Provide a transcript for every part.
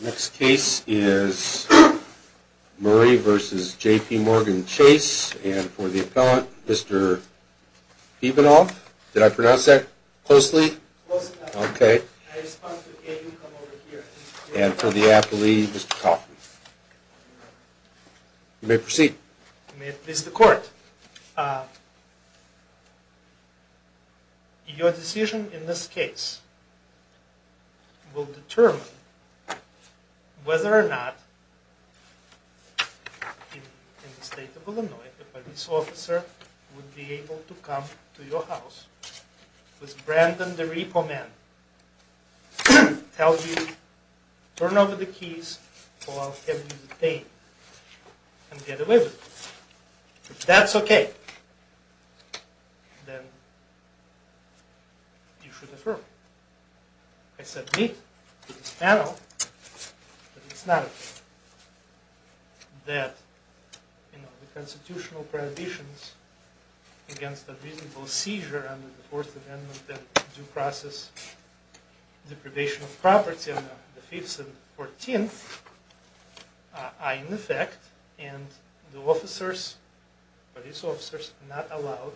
Next case is Murray v. J.P. Morgan Chase, and for the appellant, Mr. Pibonoff. Did I pronounce that closely? Close enough. Okay. I respond to A.P. come over here. And for the appellee, Mr. Kaufman. You may proceed. You may please the court. Your decision in this case will determine whether or not, in the state of Illinois, a police officer would be able to come to your house with Brandon the repo man, tell you, turn over the keys, or I'll have you detained and get away with it. If that's okay, then you should affirm. I said meet to this panel, but it's not okay. That, you know, the constitutional prohibitions against a reasonable seizure under the Fourth Amendment that due process deprivation of property on the 5th and 14th are in effect, and the officers, police officers, are not allowed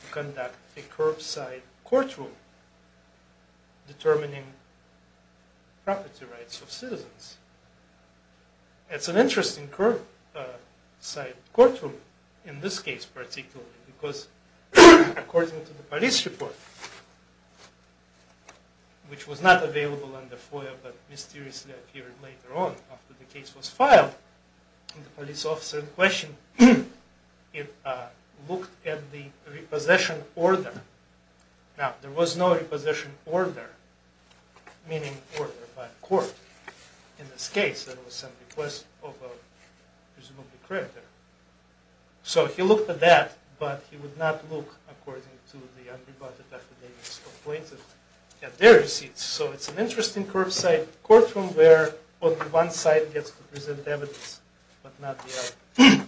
to conduct a curbside courtroom determining property rights of citizens. It's an interesting curbside courtroom in this case, particularly, because according to the police report, which was not available on the FOIA, but mysteriously appeared later on, after the case was filed, the police officer in question looked at the repossession order. Now, there was no repossession order, meaning order by court, in this case. There was some request of a, presumably, creditor. So, he looked at that, but he would not look, according to the unrebutted affidavit's complaints, at their receipts. So, it's an interesting curbside courtroom where only one side gets to present evidence, but not the other.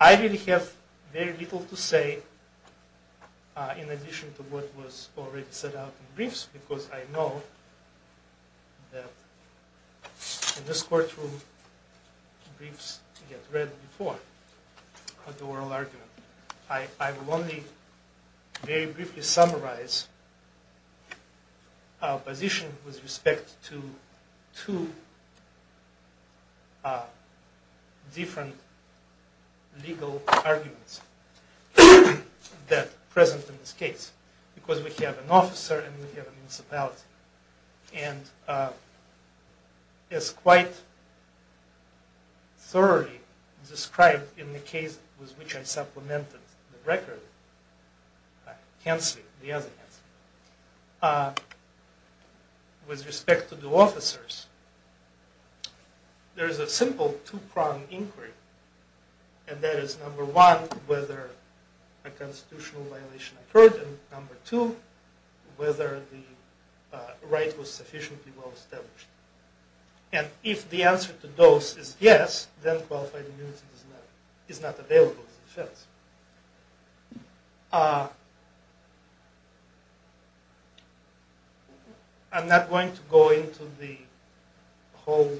I really have very little to say, in addition to what was already set out in briefs, because I know that in this courtroom, briefs get read before the oral argument. I will only very briefly summarize our position with respect to two different legal arguments that are present in this case, because we have an officer and we have a municipality. And, as quite thoroughly described in the case with which I supplemented the record, Hansley, the other Hansley, with respect to the officers, there is a simple two-pronged inquiry, and that is, number one, whether a constitutional violation occurred, and number two, whether the right was sufficiently well established. And, if the answer to those is yes, then qualified immunity is not available as a defense. I'm not going to go into the whole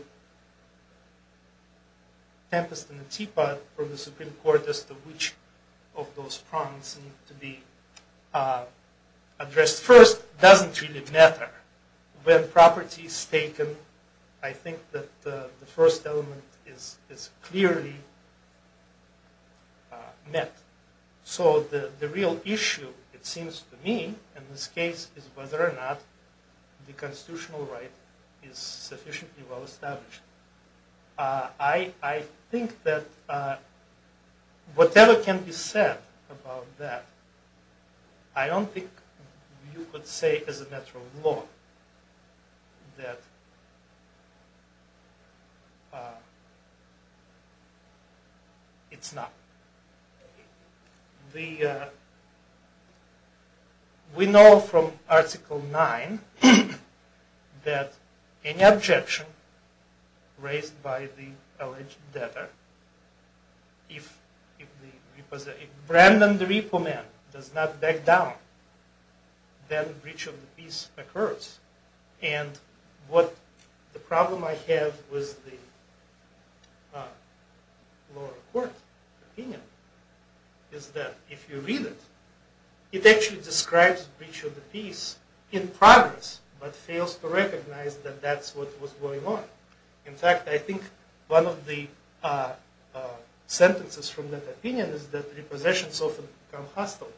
tempest and the teapot from the Supreme Court as to which of those prongs need to be addressed first. It doesn't really matter. When property is taken, I think that the first element is clearly met. So, the real issue, it seems to me, in this case, is whether or not the constitutional right is sufficiently well established. I think that whatever can be said about that, I don't think you could say as a matter of law that it's not. We know from Article 9 that any objection raised by the alleged debtor, if Brandon the repo man does not back down, then breach of the peace occurs. And, what the problem I have with the lower court opinion is that if you read it, it actually describes breach of the peace in progress, but fails to recognize that that's what was going on. In fact, I think one of the sentences from that opinion is that repossessions often become hostile.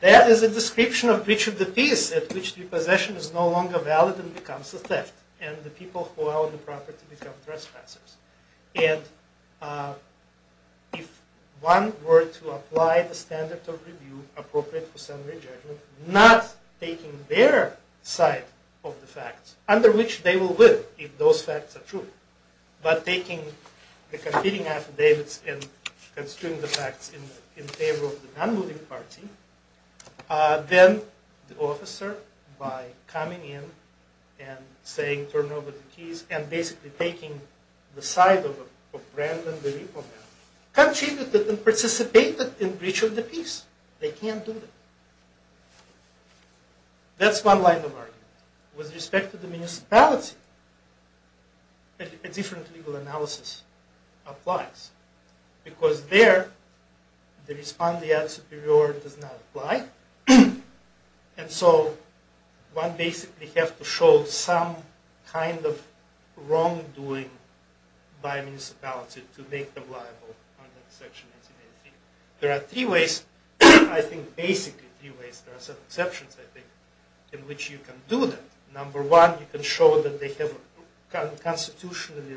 That is a description of breach of the peace at which repossession is no longer valid and becomes a theft, and the people who own the property become trespassers. And, if one were to apply the standard of review appropriate for summary judgment, not taking their side of the facts, under which they will win if those facts are true, but taking the competing affidavits and construing the facts in favor of the non-moving party, then the officer, by coming in and saying turn over the keys and basically taking the side of Brandon the repo man, contributed and participated in breach of the peace. They can't do that. That's one line of argument. With respect to the municipality, a different legal analysis applies. Because there, the respondeat superior does not apply. And so, one basically has to show some kind of wrongdoing by municipality to make them liable under section 1883. There are three ways, I think basically three ways, there are some exceptions I think, in that number one, you can show that they have constitutionally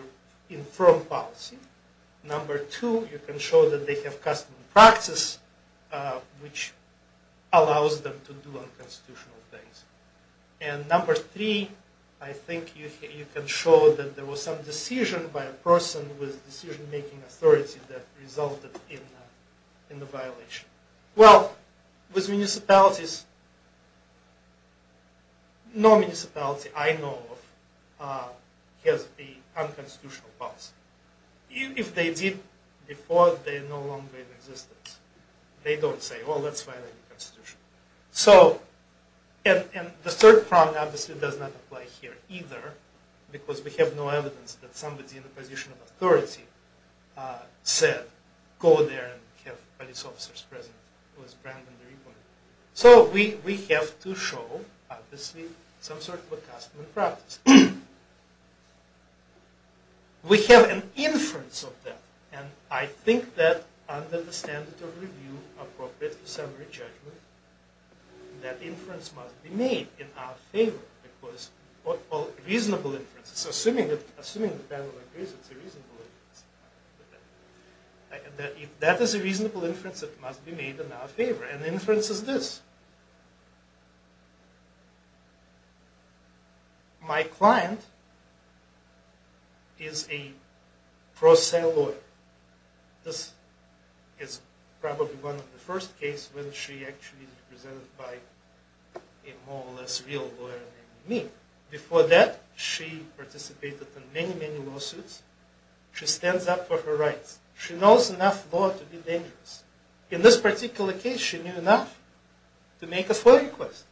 infirm policy. Number two, you can show that they have custom practice, which allows them to do unconstitutional things. And, number three, I think you can show that there was some decision by a person with decision making authority that resulted in the violation. Well, with municipalities, no municipality I know of has the unconstitutional policy. If they did before, they are no longer in existence. They don't say, well, let's violate the constitution. So, and the third problem obviously does not apply here either, because we have no evidence that somebody in the position of authority said, go there and have police officers present. So, we have to show, obviously, some sort of a custom and practice. We have an inference of that, and I think that under the standard of review appropriate to summary judgment, that inference must be made in our favor. Reasonable inference, assuming the panel agrees it's a reasonable inference. If that is a reasonable inference, it must be made in our favor. And the inference is this. My client is a pro se lawyer. This is probably one of the first cases when she actually was presented by a more or less real lawyer named me. Before that, she participated in many, many lawsuits. She stands up for her rights. She knows enough law to be dangerous. In this particular case, she knew enough to make a FOIA request.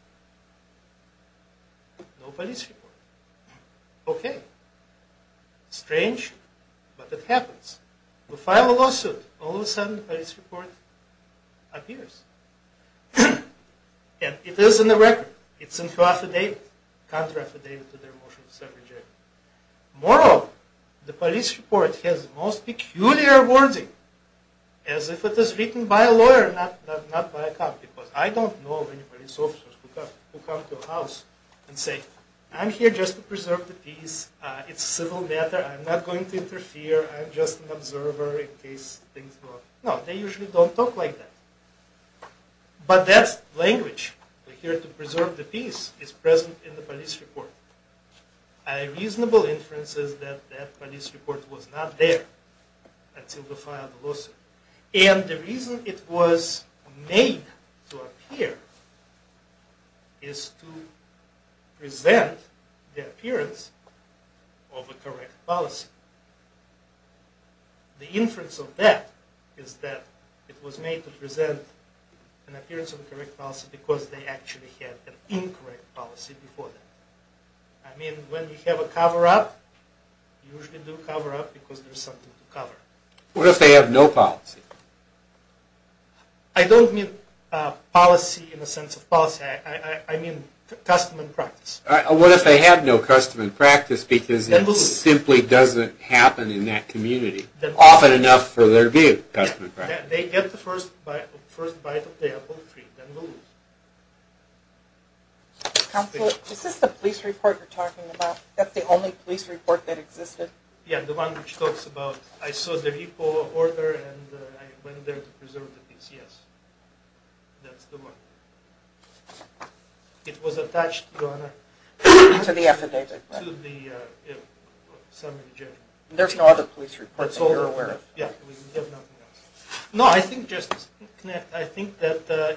No police report. Okay. Strange, but it happens. We file a lawsuit. All of a sudden, a police report appears. And it is in the record. It's in her affidavit, contra affidavit to their motion of summary judgment. Moreover, the police report has the most peculiar wording, as if it was written by a lawyer, not by a cop, because I don't know many police officers who come to a house and say, I'm here just to preserve the peace. It's a civil matter. I'm not going to interfere. I'm just an observer in case things go up. No, they usually don't talk like that. But that language, we're here to preserve the peace, is present in the police report. A reasonable inference is that that police report was not there until we filed the lawsuit. And the reason it was made to appear is to present the appearance of a correct policy. The inference of that is that it was made to present an appearance of a correct policy because they actually had an incorrect policy before that. I mean, when you have a cover-up, you usually do a cover-up because there's something to cover. What if they have no policy? I don't mean policy in the sense of policy. I mean custom and practice. What if they have no custom and practice because it simply doesn't happen in that community, often enough for there to be a custom and practice? They get the first bite of the apple tree, then we'll lose. Counselor, is this the police report you're talking about? That's the only police report that existed? Yeah, the one which talks about, I saw the repo order and I went there to preserve the peace, yes. That's the one. It was attached, Your Honor. To the affidavit. To the summary judgment. There's no other police report that you're aware of? Yeah, we have nothing else. No, I think that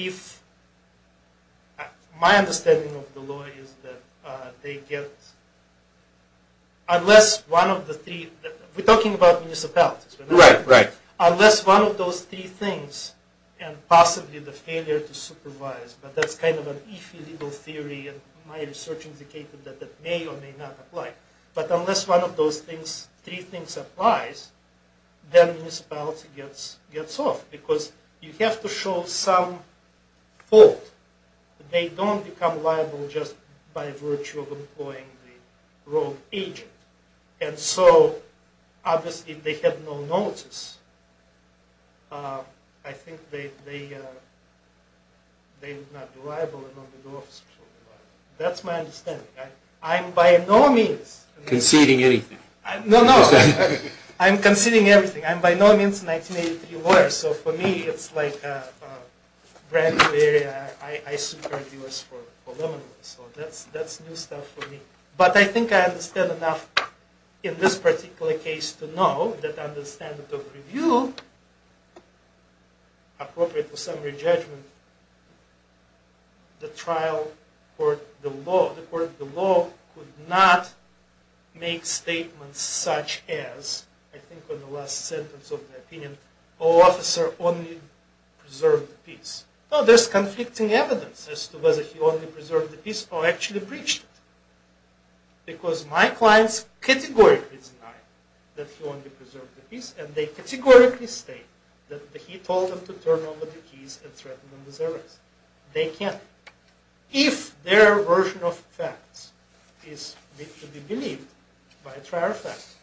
if, my understanding of the law is that they get, unless one of the three, we're talking about municipalities. Right, right. Unless one of those three things, and possibly the failure to supervise, but that's kind of an iffy legal theory and my research indicated that that may or may not apply. But unless one of those things, three things applies, then the municipality gets off. Because you have to show some fault. They don't become liable just by virtue of employing the wrong agent. And so, obviously, they have no notice. I think they would not be liable. That's my understanding. I'm by no means... Conceding anything. No, no. I'm conceding everything. I'm by no means a 1983 lawyer. So for me, it's like a brand new area. I supervise for 11 years. So that's new stuff for me. But I think I understand enough in this particular case to know that under the standard of review, appropriate for summary judgment, the trial court below could not make statements such as, I think in the last sentence of the opinion, Oh, officer only preserved the peace. Oh, there's conflicting evidence as to whether he only preserved the peace or actually breached it. Because my clients categorically deny that he only preserved the peace. And they categorically state that he told them to turn over the keys and threaten them with arrest. They can't. If their version of facts is to be believed by a trial of facts,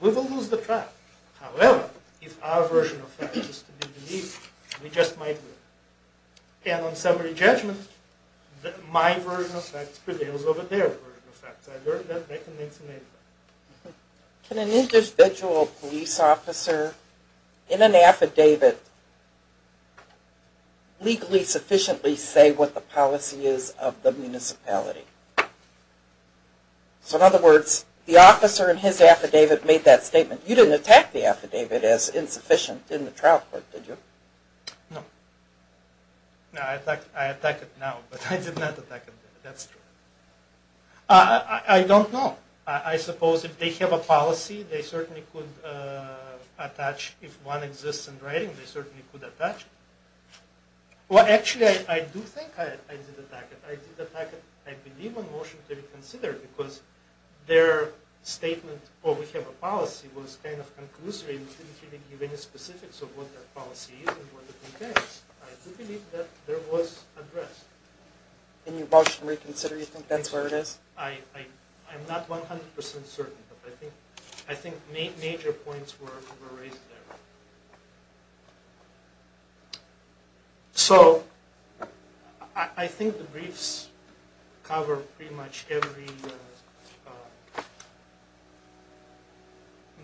we will lose the trial. However, if our version of facts is to be believed, we just might win. And on summary judgment, my version of facts prevails over their version of facts. I learned that back in 1985. Can an individual police officer in an affidavit legally sufficiently say what the policy is of the municipality? So in other words, the officer in his affidavit made that statement. You didn't attack the affidavit as insufficient in the trial court, did you? No. I attack it now, but I did not attack it then. That's true. I don't know. I suppose if they have a policy, they certainly could attach. If one exists in writing, they certainly could attach it. Well, actually, I do think I did attack it. I did attack it. I believe on motion to reconsider, because their statement, oh, we have a policy, was kind of conclusive. It didn't really give any specifics of what their policy is and what it entails. I do believe that there was address. In your motion to reconsider, you think that's where it is? I'm not 100% certain, but I think major points were raised there. So I think the briefs cover pretty much every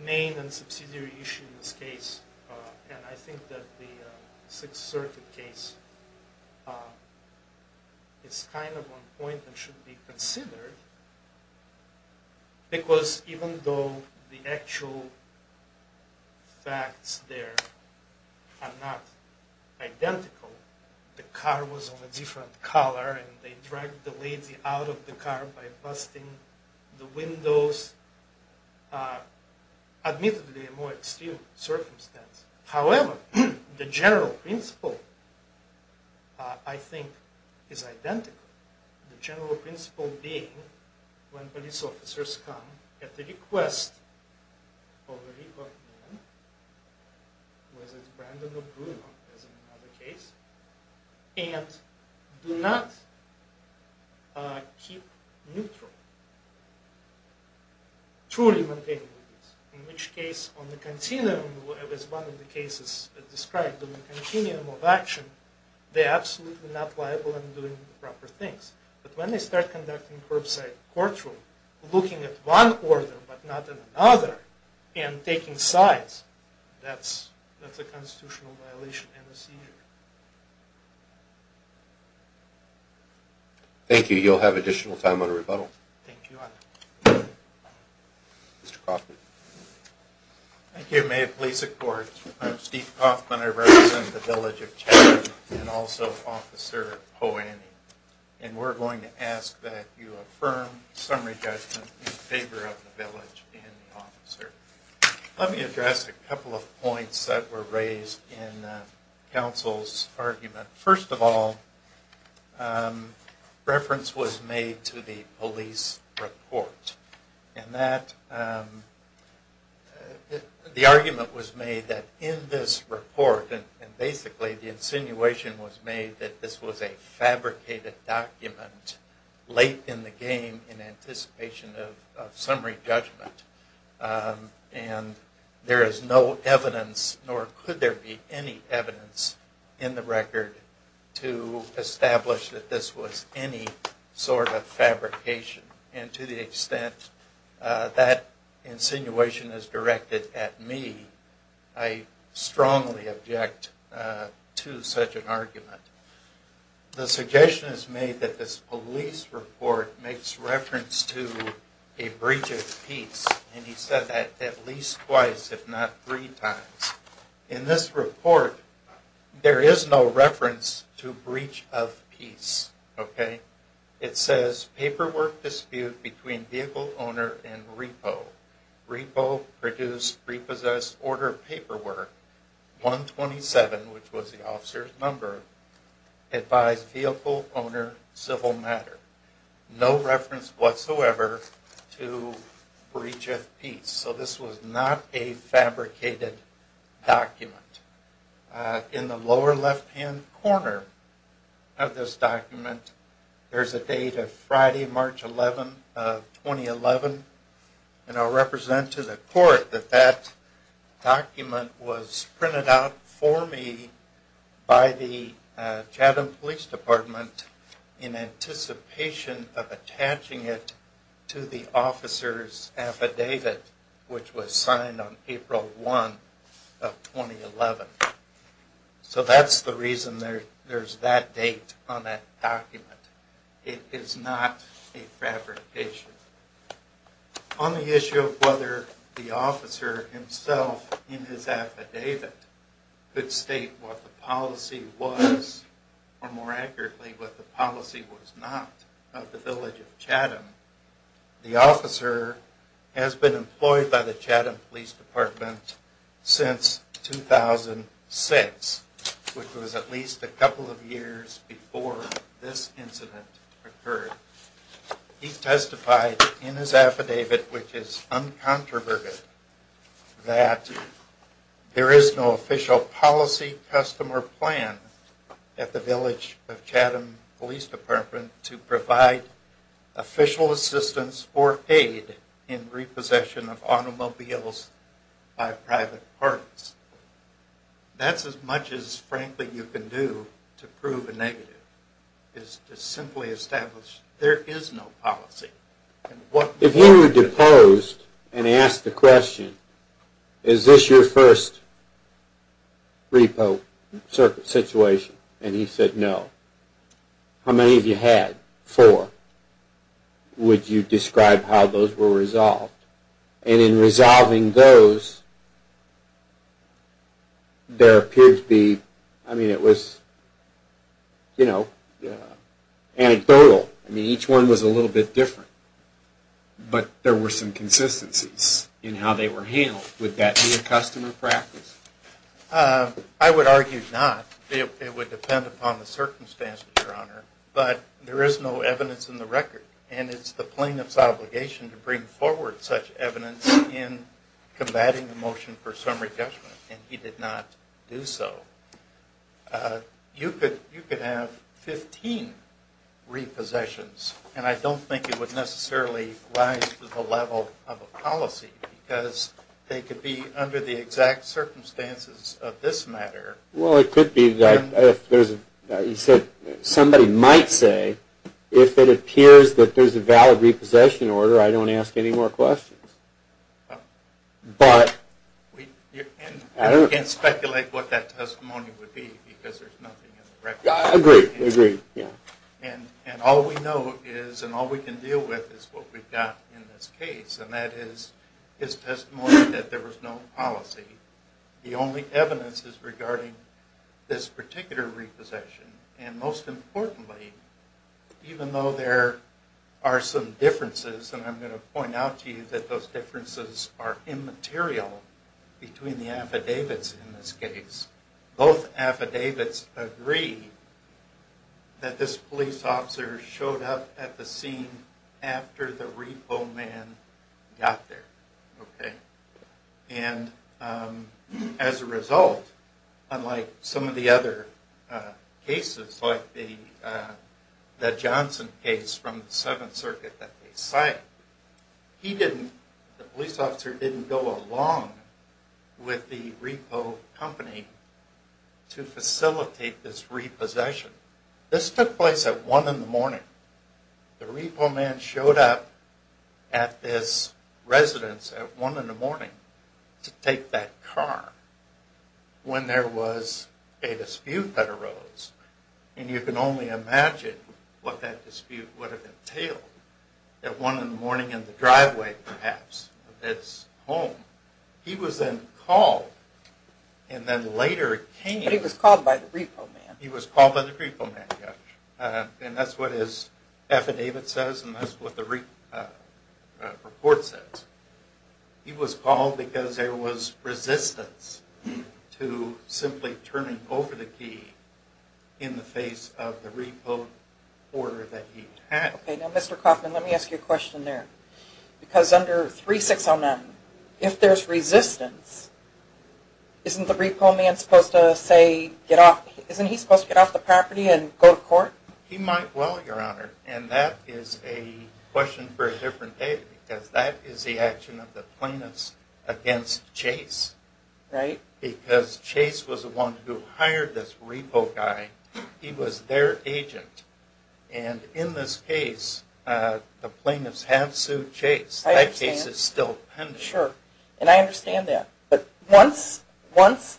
main and subsidiary issue in this case, and I think that the Sixth Circuit case is kind of on point and should be considered, because even though the actual facts there are not identical, the car was of a different color, and they dragged the lady out of the car by busting the windows. This is admittedly a more extreme circumstance. However, the general principle, I think, is identical. The general principle being when police officers come at the request of a recalled woman, whether it's Brandon or Bruno, as in another case, and do not keep neutral. Truly maintaining this, in which case on the continuum, as one of the cases described, on the continuum of action, they're absolutely not liable in doing the proper things. But when they start conducting curbside courtroom, looking at one order but not in another, and taking sides, that's a constitutional violation and a seizure. Thank you. You'll have additional time on rebuttal. Thank you, Your Honor. Mr. Kaufman. Thank you. May it please the Court. I'm Steve Kaufman. I represent the Village of Chattanooga, and also Officer Hoani. And we're going to ask that you affirm summary judgment in favor of the village and the officer. Let me address a couple of points that were raised in counsel's argument. First of all, reference was made to the police report. The argument was made that in this report, and basically the insinuation was made that this was a fabricated document late in the game in anticipation of summary judgment. And there is no evidence, nor could there be any evidence, in the record to establish that this was any sort of fabrication. And to the extent that insinuation is directed at me, I strongly object to such an argument. The suggestion is made that this police report makes reference to a breach of peace. And he said that at least twice, if not three times. In this report, there is no reference to breach of peace. It says, paperwork dispute between vehicle owner and repo. Repo, produce, repossess, order of paperwork. 127, which was the officer's number, advised vehicle owner, civil matter. No reference whatsoever to breach of peace. So this was not a fabricated document. In the lower left-hand corner of this document, there is a date of Friday, March 11, 2011. And I'll represent to the court that that document was printed out for me by the Chatham Police Department in anticipation of attaching it to the officer's affidavit, which was signed on April 1 of 2011. So that's the reason there's that date on that document. It is not a fabrication. On the issue of whether the officer himself in his affidavit could state what the policy was, or more accurately, what the policy was not of the village of Chatham, the officer has been employed by the Chatham Police Department since 2006, which was at least a couple of years before this incident occurred. He testified in his affidavit, which is uncontroverted, that there is no official policy, custom, or plan at the village of Chatham Police Department to provide official assistance or aid in repossession of automobiles by private parties. That's as much as, frankly, you can do to prove a negative, is to simply establish there is no policy. If he were deposed and asked the question, is this your first repo situation? And he said, no. How many have you had? Four. Would you describe how those were resolved? And in resolving those, there appeared to be, I mean, it was anecdotal. Each one was a little bit different. But there were some consistencies in how they were handled. Would that be a custom or practice? I would argue not. It would depend upon the circumstances, Your Honor. But there is no evidence in the record, and it's the plaintiff's obligation to bring forward such evidence in combating the motion for summary judgment. And he did not do so. You could have 15 repossessions, and I don't think it would necessarily rise to the level of a policy, because they could be under the exact circumstances of this matter. Well, it could be. Somebody might say, if it appears that there's a valid repossession order, I don't ask any more questions. And we can't speculate what that testimony would be, because there's nothing in the record. Agreed. And all we know is, and all we can deal with, is what we've got in this case, and that is his testimony that there was no policy. The only evidence is regarding this particular repossession. And most importantly, even though there are some differences, and I'm going to point out to you that those differences are immaterial between the affidavits in this case, both affidavits agree that this police officer showed up at the scene after the repo man got there. Okay? And as a result, unlike some of the other cases, like the Johnson case from the Seventh Circuit that they cite, the police officer didn't go along with the repo company to facilitate this repossession. This took place at 1 in the morning. The repo man showed up at this residence at 1 in the morning to take that car when there was a dispute that arose. And you can only imagine what that dispute would have entailed, at 1 in the morning in the driveway, perhaps, of this home. He was then called and then later came. But he was called by the repo man. He was called by the repo man, yes. And that's what his affidavit says, and that's what the report says. He was called because there was resistance to simply turning over the key in the face of the repo order that he had. Okay. Now, Mr. Kaufman, let me ask you a question there. Because under 3609, if there's resistance, isn't the repo man supposed to, say, get off? Get off the property and go to court? He might well, Your Honor. And that is a question for a different day because that is the action of the plaintiffs against Chase. Right. Because Chase was the one who hired this repo guy. He was their agent. And in this case, the plaintiffs have sued Chase. That case is still pending. Sure. And I understand that. But once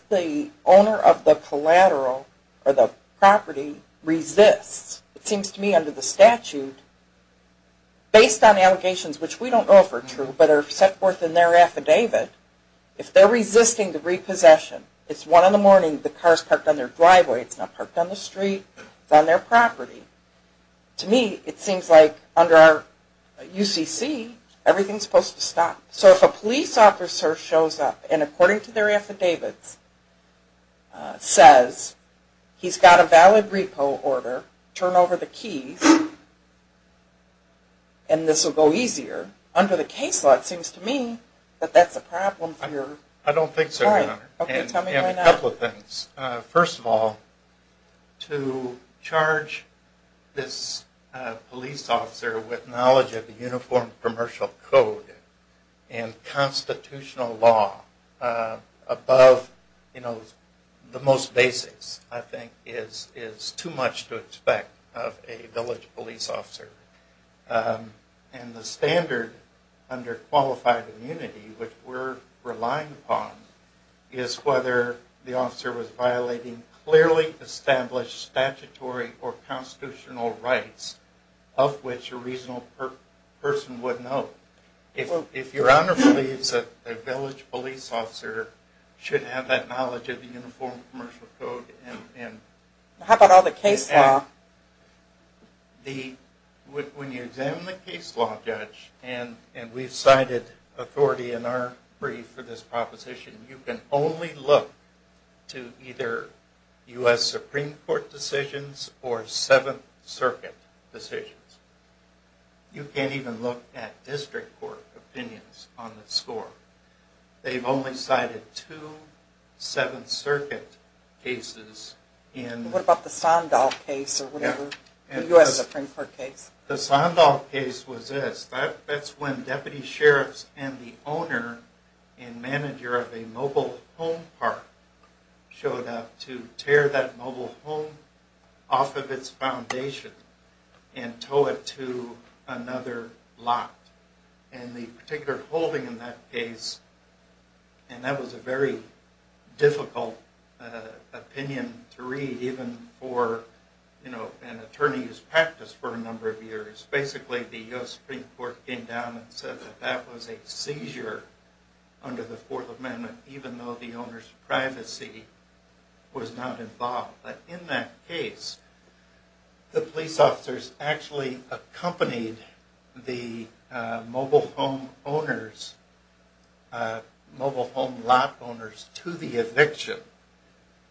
the owner of the collateral or the property resists, it seems to me under the statute, based on allegations, which we don't know if are true, but are set forth in their affidavit, if they're resisting the repossession, it's one in the morning, the car is parked on their driveway, it's not parked on the street, it's on their property. To me, it seems like under our UCC, everything is supposed to stop. So if a police officer shows up and, according to their affidavits, says he's got a valid repo order, turn over the keys, and this will go easier, under the case law, it seems to me that that's a problem for your... I don't think so, Your Honor. Okay, tell me why not. And a couple of things. First of all, to charge this police officer with knowledge of the Uniform Commercial Code and constitutional law above the most basics, I think, is too much to expect of a village police officer. And the standard under qualified immunity, which we're relying upon, is whether the officer was violating clearly established statutory or constitutional rights of which a reasonable person would know. If Your Honor believes that a village police officer should have that knowledge of the Uniform Commercial Code and... How about all the case law? When you examine the case law, Judge, and we've cited authority in our brief for this proposition, you can only look to either U.S. Supreme Court decisions or Seventh Circuit decisions. You can't even look at district court opinions on the score. They've only cited two Seventh Circuit cases in... What about the Sandoff case or whatever, the U.S. Supreme Court case? The Sandoff case was this. That's when deputy sheriffs and the owner and manager of a mobile home park showed up to tear that mobile home off of its foundation and tow it to another lot. And the particular holding in that case, and that was a very difficult opinion to read, even for an attorney who's practiced for a number of years. Basically, the U.S. Supreme Court came down and said that that was a seizure under the Fourth Amendment, even though the owner's privacy was not involved. But in that case, the police officers actually accompanied the mobile home owners, mobile home lot owners, to the eviction.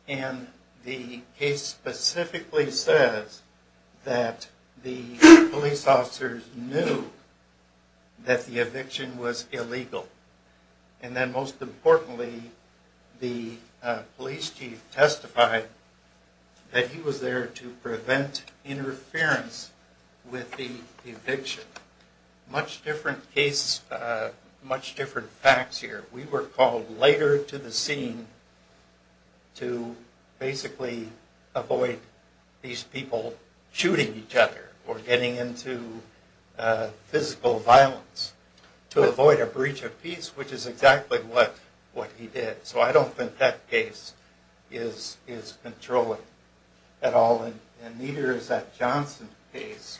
And the case specifically says that the police officers knew that the eviction was illegal. And then, most importantly, the police chief testified that he was there to prevent interference with the eviction. Much different case, much different facts here. We were called later to the scene to basically avoid these people shooting each other or getting into physical violence to avoid a breach of peace, which is exactly what he did. So I don't think that case is controlling at all, and neither is that Johnson case.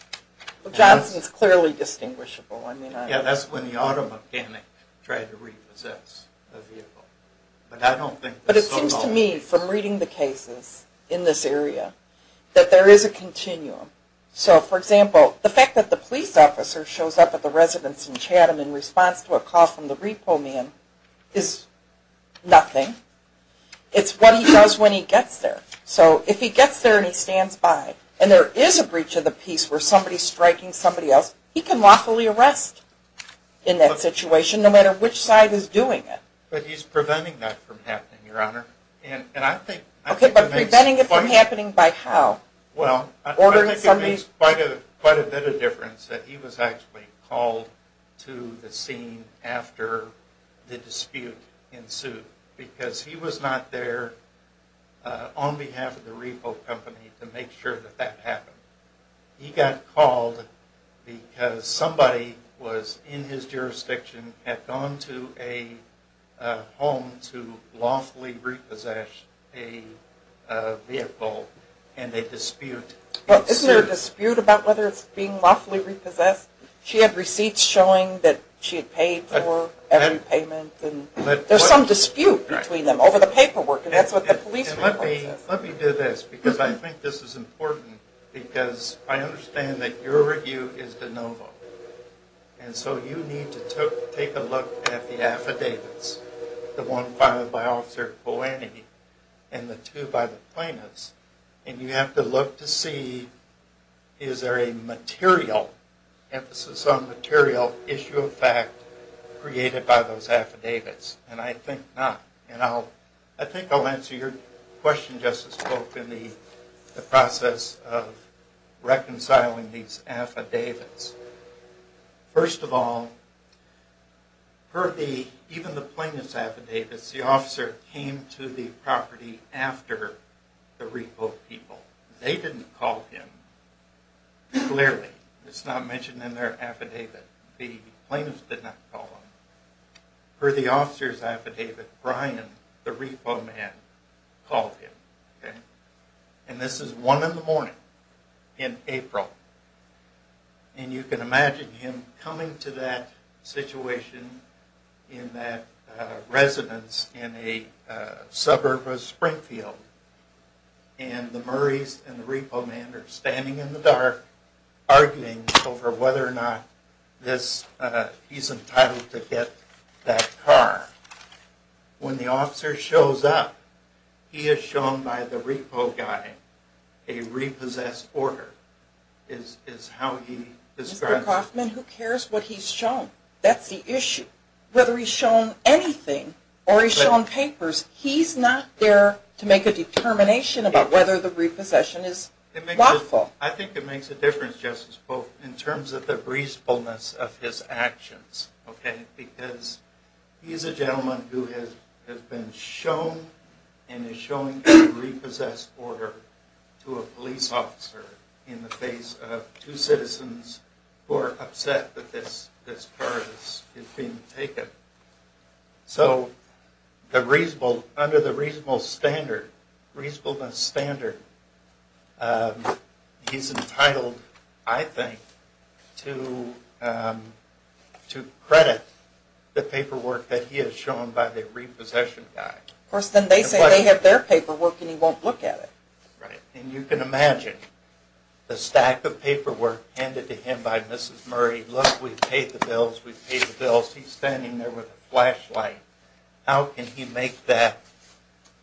Well, Johnson's clearly distinguishable. Yeah, that's when the auto mechanic tried to repossess the vehicle. But it seems to me, from reading the cases in this area, that there is a continuum. So, for example, the fact that the police officer shows up at the residence in Chatham in response to a call from the repo man is nothing. It's what he does when he gets there. So if he gets there and he stands by, and there is a breach of the peace where somebody is striking somebody else, he can lawfully arrest in that situation no matter which side is doing it. But he's preventing that from happening, Your Honor. Okay, but preventing it from happening by how? I think it makes quite a bit of difference that he was actually called to the scene after the dispute ensued because he was not there on behalf of the repo company to make sure that that happened. He got called because somebody in his jurisdiction had gone to a home to lawfully repossess a vehicle and a dispute ensued. Isn't there a dispute about whether it's being lawfully repossessed? She had receipts showing that she had paid for every payment. There's some dispute between them over the paperwork, and that's what the police report says. Let me do this because I think this is important because I understand that your review is de novo, and so you need to take a look at the affidavits, the one filed by Officer Polanyi and the two by the plaintiffs, and you have to look to see is there a material, emphasis on material, issue of fact created by those affidavits, and I think not. I think I'll answer your question, Justice Polk, in the process of reconciling these affidavits. First of all, per even the plaintiff's affidavits, the officer came to the property after the repo people. They didn't call him, clearly. It's not mentioned in their affidavit. The plaintiffs did not call him. Per the officer's affidavit, Brian, the repo man, called him, and this is one in the morning in April, and you can imagine him coming to that situation in that residence in a suburb of Springfield, and the Murrays and the repo man are standing in the dark arguing over whether or not he's entitled to get that car. When the officer shows up, he is shown by the repo guy a repossessed order, is how he describes it. Mr. Coffman, who cares what he's shown? That's the issue. Whether he's shown anything or he's shown papers, he's not there to make a determination about whether the repossession is lawful. I think it makes a difference, Justice Pope, in terms of the reasonableness of his actions, because he's a gentleman who has been shown and is showing a repossessed order to a police officer in the face of two citizens who are upset that this car has been taken. So under the reasonableness standard, he's entitled, I think, to credit the paperwork that he has shown by the repossession guy. Of course, then they say they have their paperwork and he won't look at it. Right. And you can imagine the stack of paperwork handed to him by Mrs. Murray, saying, look, we've paid the bills, we've paid the bills. He's standing there with a flashlight. How can he make that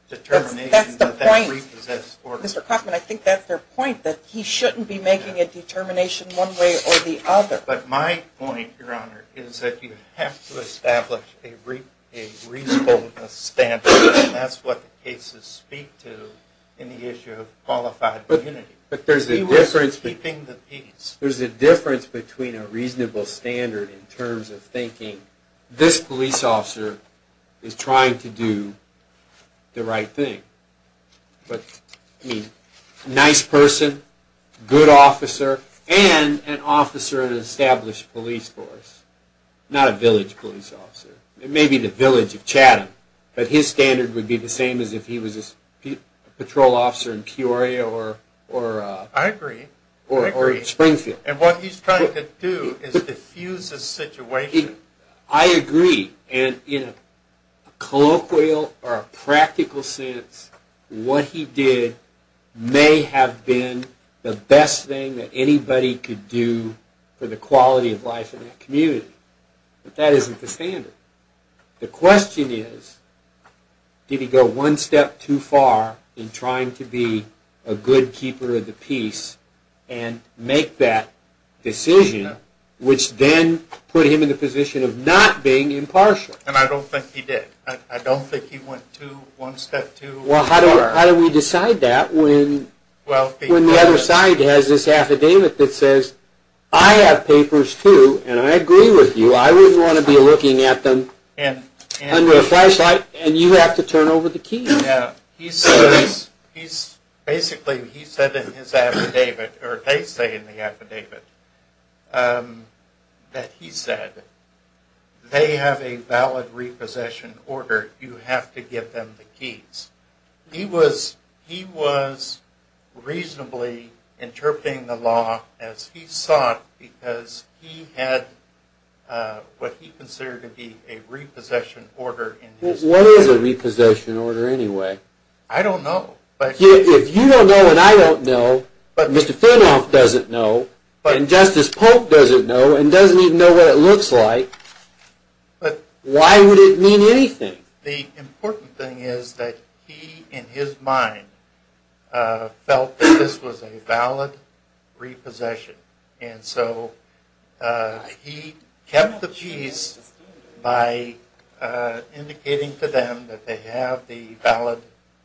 determination that that's a repossessed order? That's the point. Mr. Coffman, I think that's their point, that he shouldn't be making a determination one way or the other. But my point, Your Honor, is that you have to establish a reasonableness standard, and that's what the cases speak to in the issue of qualified immunity. But there's a difference between a reasonableness standard and a reasonable standard in terms of thinking, this police officer is trying to do the right thing. But, I mean, nice person, good officer, and an officer in an established police force. Not a village police officer. It may be the village of Chatham, but his standard would be the same as if he was a patrol officer in Peoria or Springfield. I agree. And what he's trying to do is diffuse the situation. I agree. And in a colloquial or a practical sense, what he did may have been the best thing that anybody could do for the quality of life in that community. But that isn't the standard. The question is, did he go one step too far in trying to be a good keeper of the peace and make that decision, which then put him in the position of not being impartial? And I don't think he did. I don't think he went one step too far. Well, how do we decide that when the other side has this affidavit that says, I have papers, too, and I agree with you. I wouldn't want to be looking at them under a flashlight, and you have to turn over the keys. Yeah. Basically, he said in his affidavit, or they say in the affidavit, that he said, they have a valid repossession order. You have to give them the keys. He was reasonably interpreting the law as he saw it because he had what he considered to be a repossession order. What is a repossession order, anyway? I don't know. If you don't know and I don't know, and Mr. Finloff doesn't know, and Justice Polk doesn't know, and doesn't even know what it looks like, why would it mean anything? The important thing is that he, in his mind, felt that this was a valid repossession. And so he kept the keys by indicating to them that they have the valid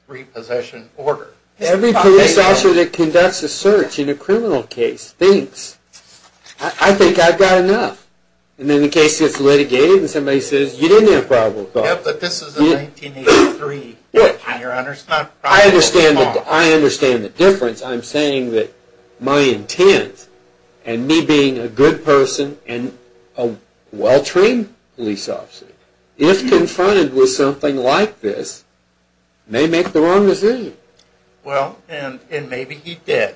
repossession order. Every police officer that conducts a search in a criminal case thinks, I think I've got enough. And then the case gets litigated and somebody says, you didn't have probable cause. Yeah, but this is a 1983 case, Your Honor. I understand the difference. I'm saying that my intent, and me being a good person and a well-trained police officer, if confronted with something like this, may make the wrong decision. Well, and maybe he did.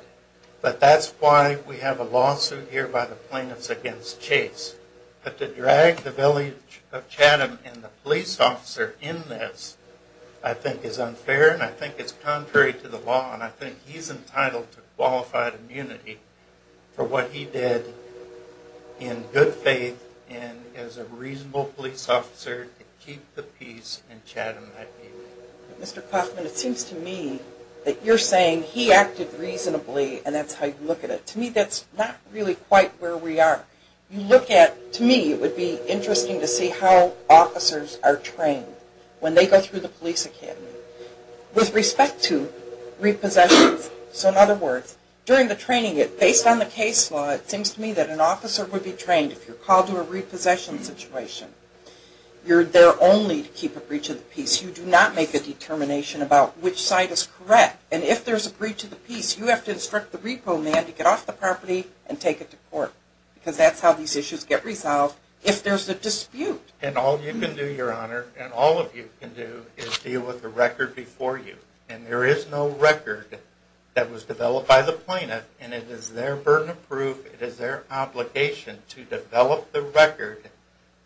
But that's why we have a lawsuit here by the plaintiffs against Chase. But to drag the village of Chatham and the police officer in this, I think is unfair and I think it's contrary to the law and I think he's entitled to qualified immunity for what he did in good faith and as a reasonable police officer to keep the peace in Chatham. Mr. Kaufman, it seems to me that you're saying he acted reasonably and that's how you look at it. To me, that's not really quite where we are. You look at, to me, it would be interesting to see how officers are trained when they go through the police academy. With respect to repossessions, so in other words, during the training, based on the case law, it seems to me that an officer would be trained, if you're called to a repossession situation, you're there only to keep a breach of the peace. You do not make a determination about which side is correct. And if there's a breach of the peace, you have to instruct the repo man to get off the property and take it to court because that's how these issues get resolved if there's a dispute. And all you can do, Your Honor, and all of you can do is deal with the record before you. And there is no record that was developed by the plaintiff and it is their burden of proof, it is their obligation to develop the record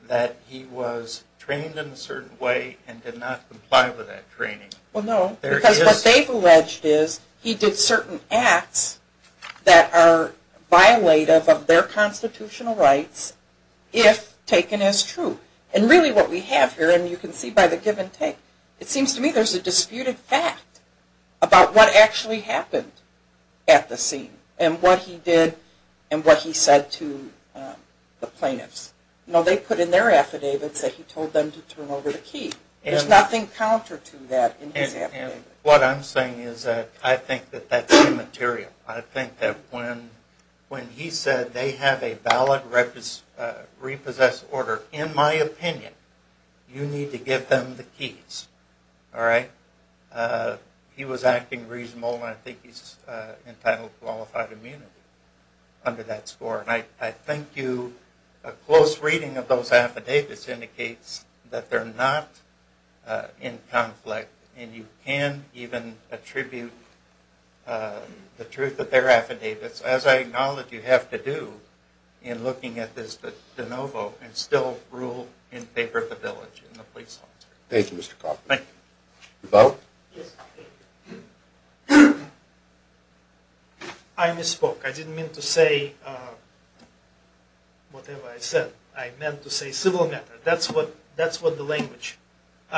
that he was trained in a certain way and did not comply with that training. Well, no, because what they've alleged is he did certain acts that are violative of their constitutional rights if taken as true. And really what we have here, and you can see by the give and take, it seems to me there's a disputed fact about what actually happened at the scene and what he did and what he said to the plaintiffs. They put in their affidavits that he told them to turn over the key. There's nothing counter to that in his affidavit. And what I'm saying is that I think that that's immaterial. I think that when he said they have a valid repossessed order, in my opinion, you need to give them the keys, all right? He was acting reasonable and I think he's entitled to qualified immunity under that score. And I think a close reading of those affidavits indicates that they're not in conflict and you can even attribute the truth of their affidavits, as I acknowledge you have to do in looking at this de novo and still rule in favor of the village and the police officer. Thank you, Mr. Koffman. Thank you. Bo? Yes. I misspoke. I didn't mean to say whatever I said. I meant to say civil matter. That's what the language,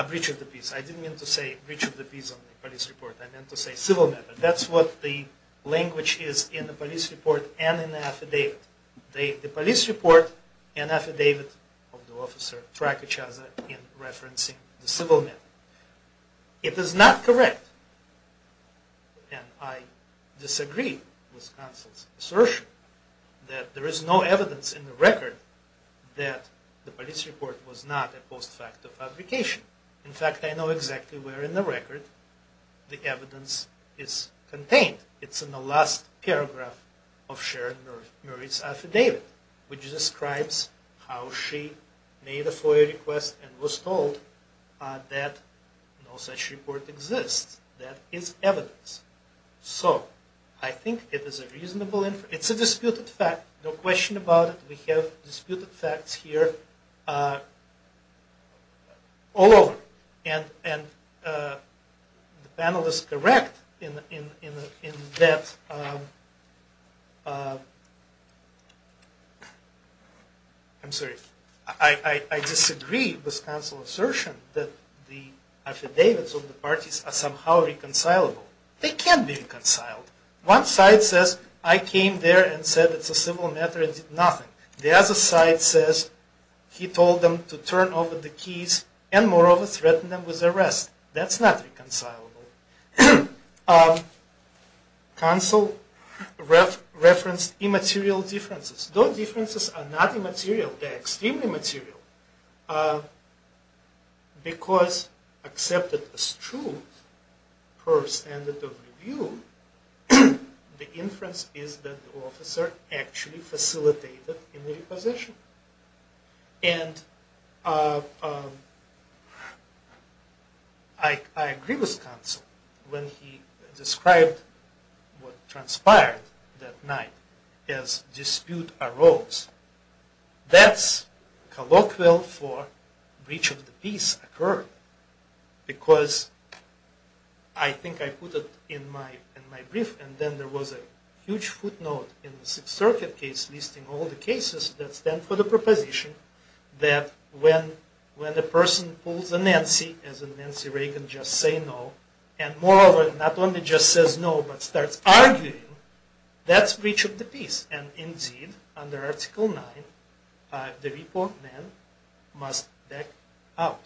breach of the peace. I didn't mean to say breach of the peace on the police report. I meant to say civil matter. That's what the language is in the police report and in the affidavit. The police report and affidavit of the officer track each other in referencing the civil matter. It is not correct, and I disagree with counsel's assertion, that there is no evidence in the record that the police report was not a post facto fabrication. In fact, I know exactly where in the record the evidence is contained. It's in the last paragraph of Sharon Murray's affidavit, which describes how she made a FOIA request and was told that no such report exists. That is evidence. So I think it is a reasonable inference. It's a disputed fact. No question about it. We have disputed facts here. All over. And the panel is correct in that, I'm sorry, I disagree with counsel's assertion that the affidavits of the parties are somehow reconcilable. They can be reconciled. One side says, I came there and said it's a civil matter and did nothing. The other side says he told them to turn over the keys and moreover threatened them with arrest. That's not reconcilable. Counsel referenced immaterial differences. Those differences are not immaterial. They're extremely material. Because accepted as true per standard of review, the inference is that the officer actually facilitated immaterial possession. And I agree with counsel when he described what transpired that night as dispute arose. That's colloquial for breach of the peace occurred. Because I think I put it in my brief and then there was a huge footnote in the Sixth Circuit case listing all the cases that stand for the proposition that when a person pulls a Nancy, as in Nancy Reagan, just say no, and moreover not only just says no but starts arguing, that's breach of the peace. And indeed, under Article 9, the report man must back out.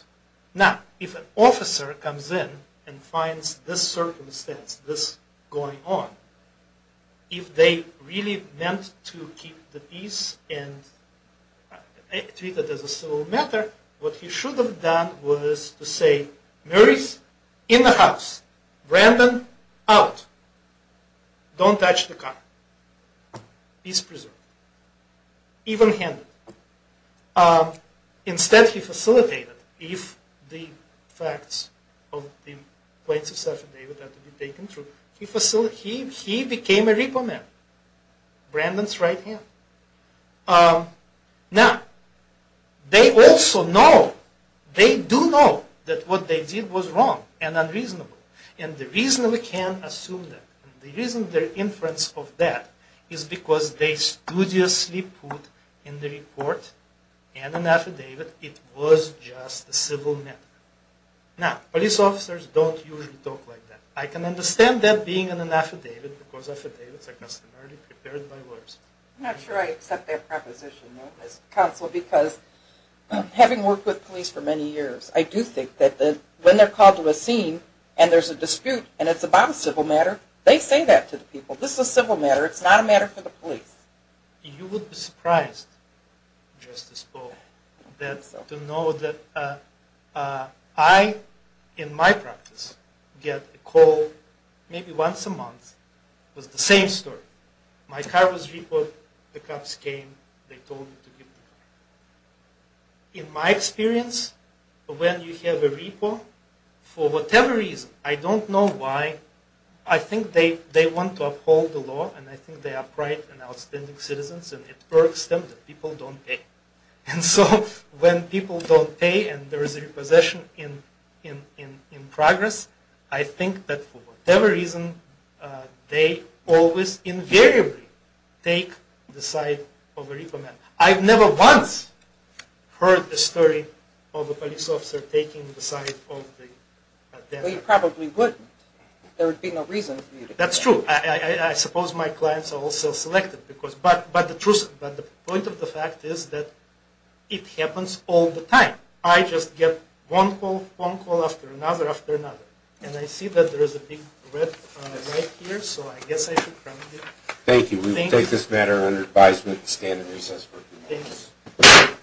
Now, if an officer comes in and finds this circumstance, this going on, if they really meant to keep the peace and treat it as a civil matter, what he should have done was to say, Mary's in the house. Brandon, out. Don't touch the car. Peace preserved. Even-handed. Instead, he facilitated. If the facts of the plates of sacrifice have to be taken through, he became a repo man. Brandon's right hand. Now, they also know, they do know, that what they did was wrong and unreasonable. And the reason we can assume that, the reason their inference of that, is because they studiously put in the report and in the affidavit, it was just a civil matter. Now, police officers don't usually talk like that. I can understand that being in an affidavit, because affidavits are customarily prepared by lawyers. I'm not sure I accept that proposition, Counsel, because having worked with police for many years, I do think that when they're called to a scene and there's a dispute and it's about a civil matter, they say that to the people. This is a civil matter. It's not a matter for the police. You would be surprised, Justice Paul, to know that I, in my practice, get a call maybe once a month. It was the same story. My car was reported. The cops came. They told me to give it back. In my experience, when you have a repo, for whatever reason, I don't know why, I think they want to uphold the law, and I think they are bright and outstanding citizens, and it irks them that people don't pay. And so, when people don't pay and there is a repossession in progress, I think that for whatever reason, they always invariably take the side of a repo man. I've never once heard the story of a police officer taking the side of the deputy. Well, you probably would. There would be no reason for you to do that. That's true. I suppose my clients are also selective. But the point of the fact is that it happens all the time. I just get one phone call after another after another. And I see that there is a big red light here, so I guess I should turn it off. Thank you. We take this matter under advisement and stand in resistance. Thank you.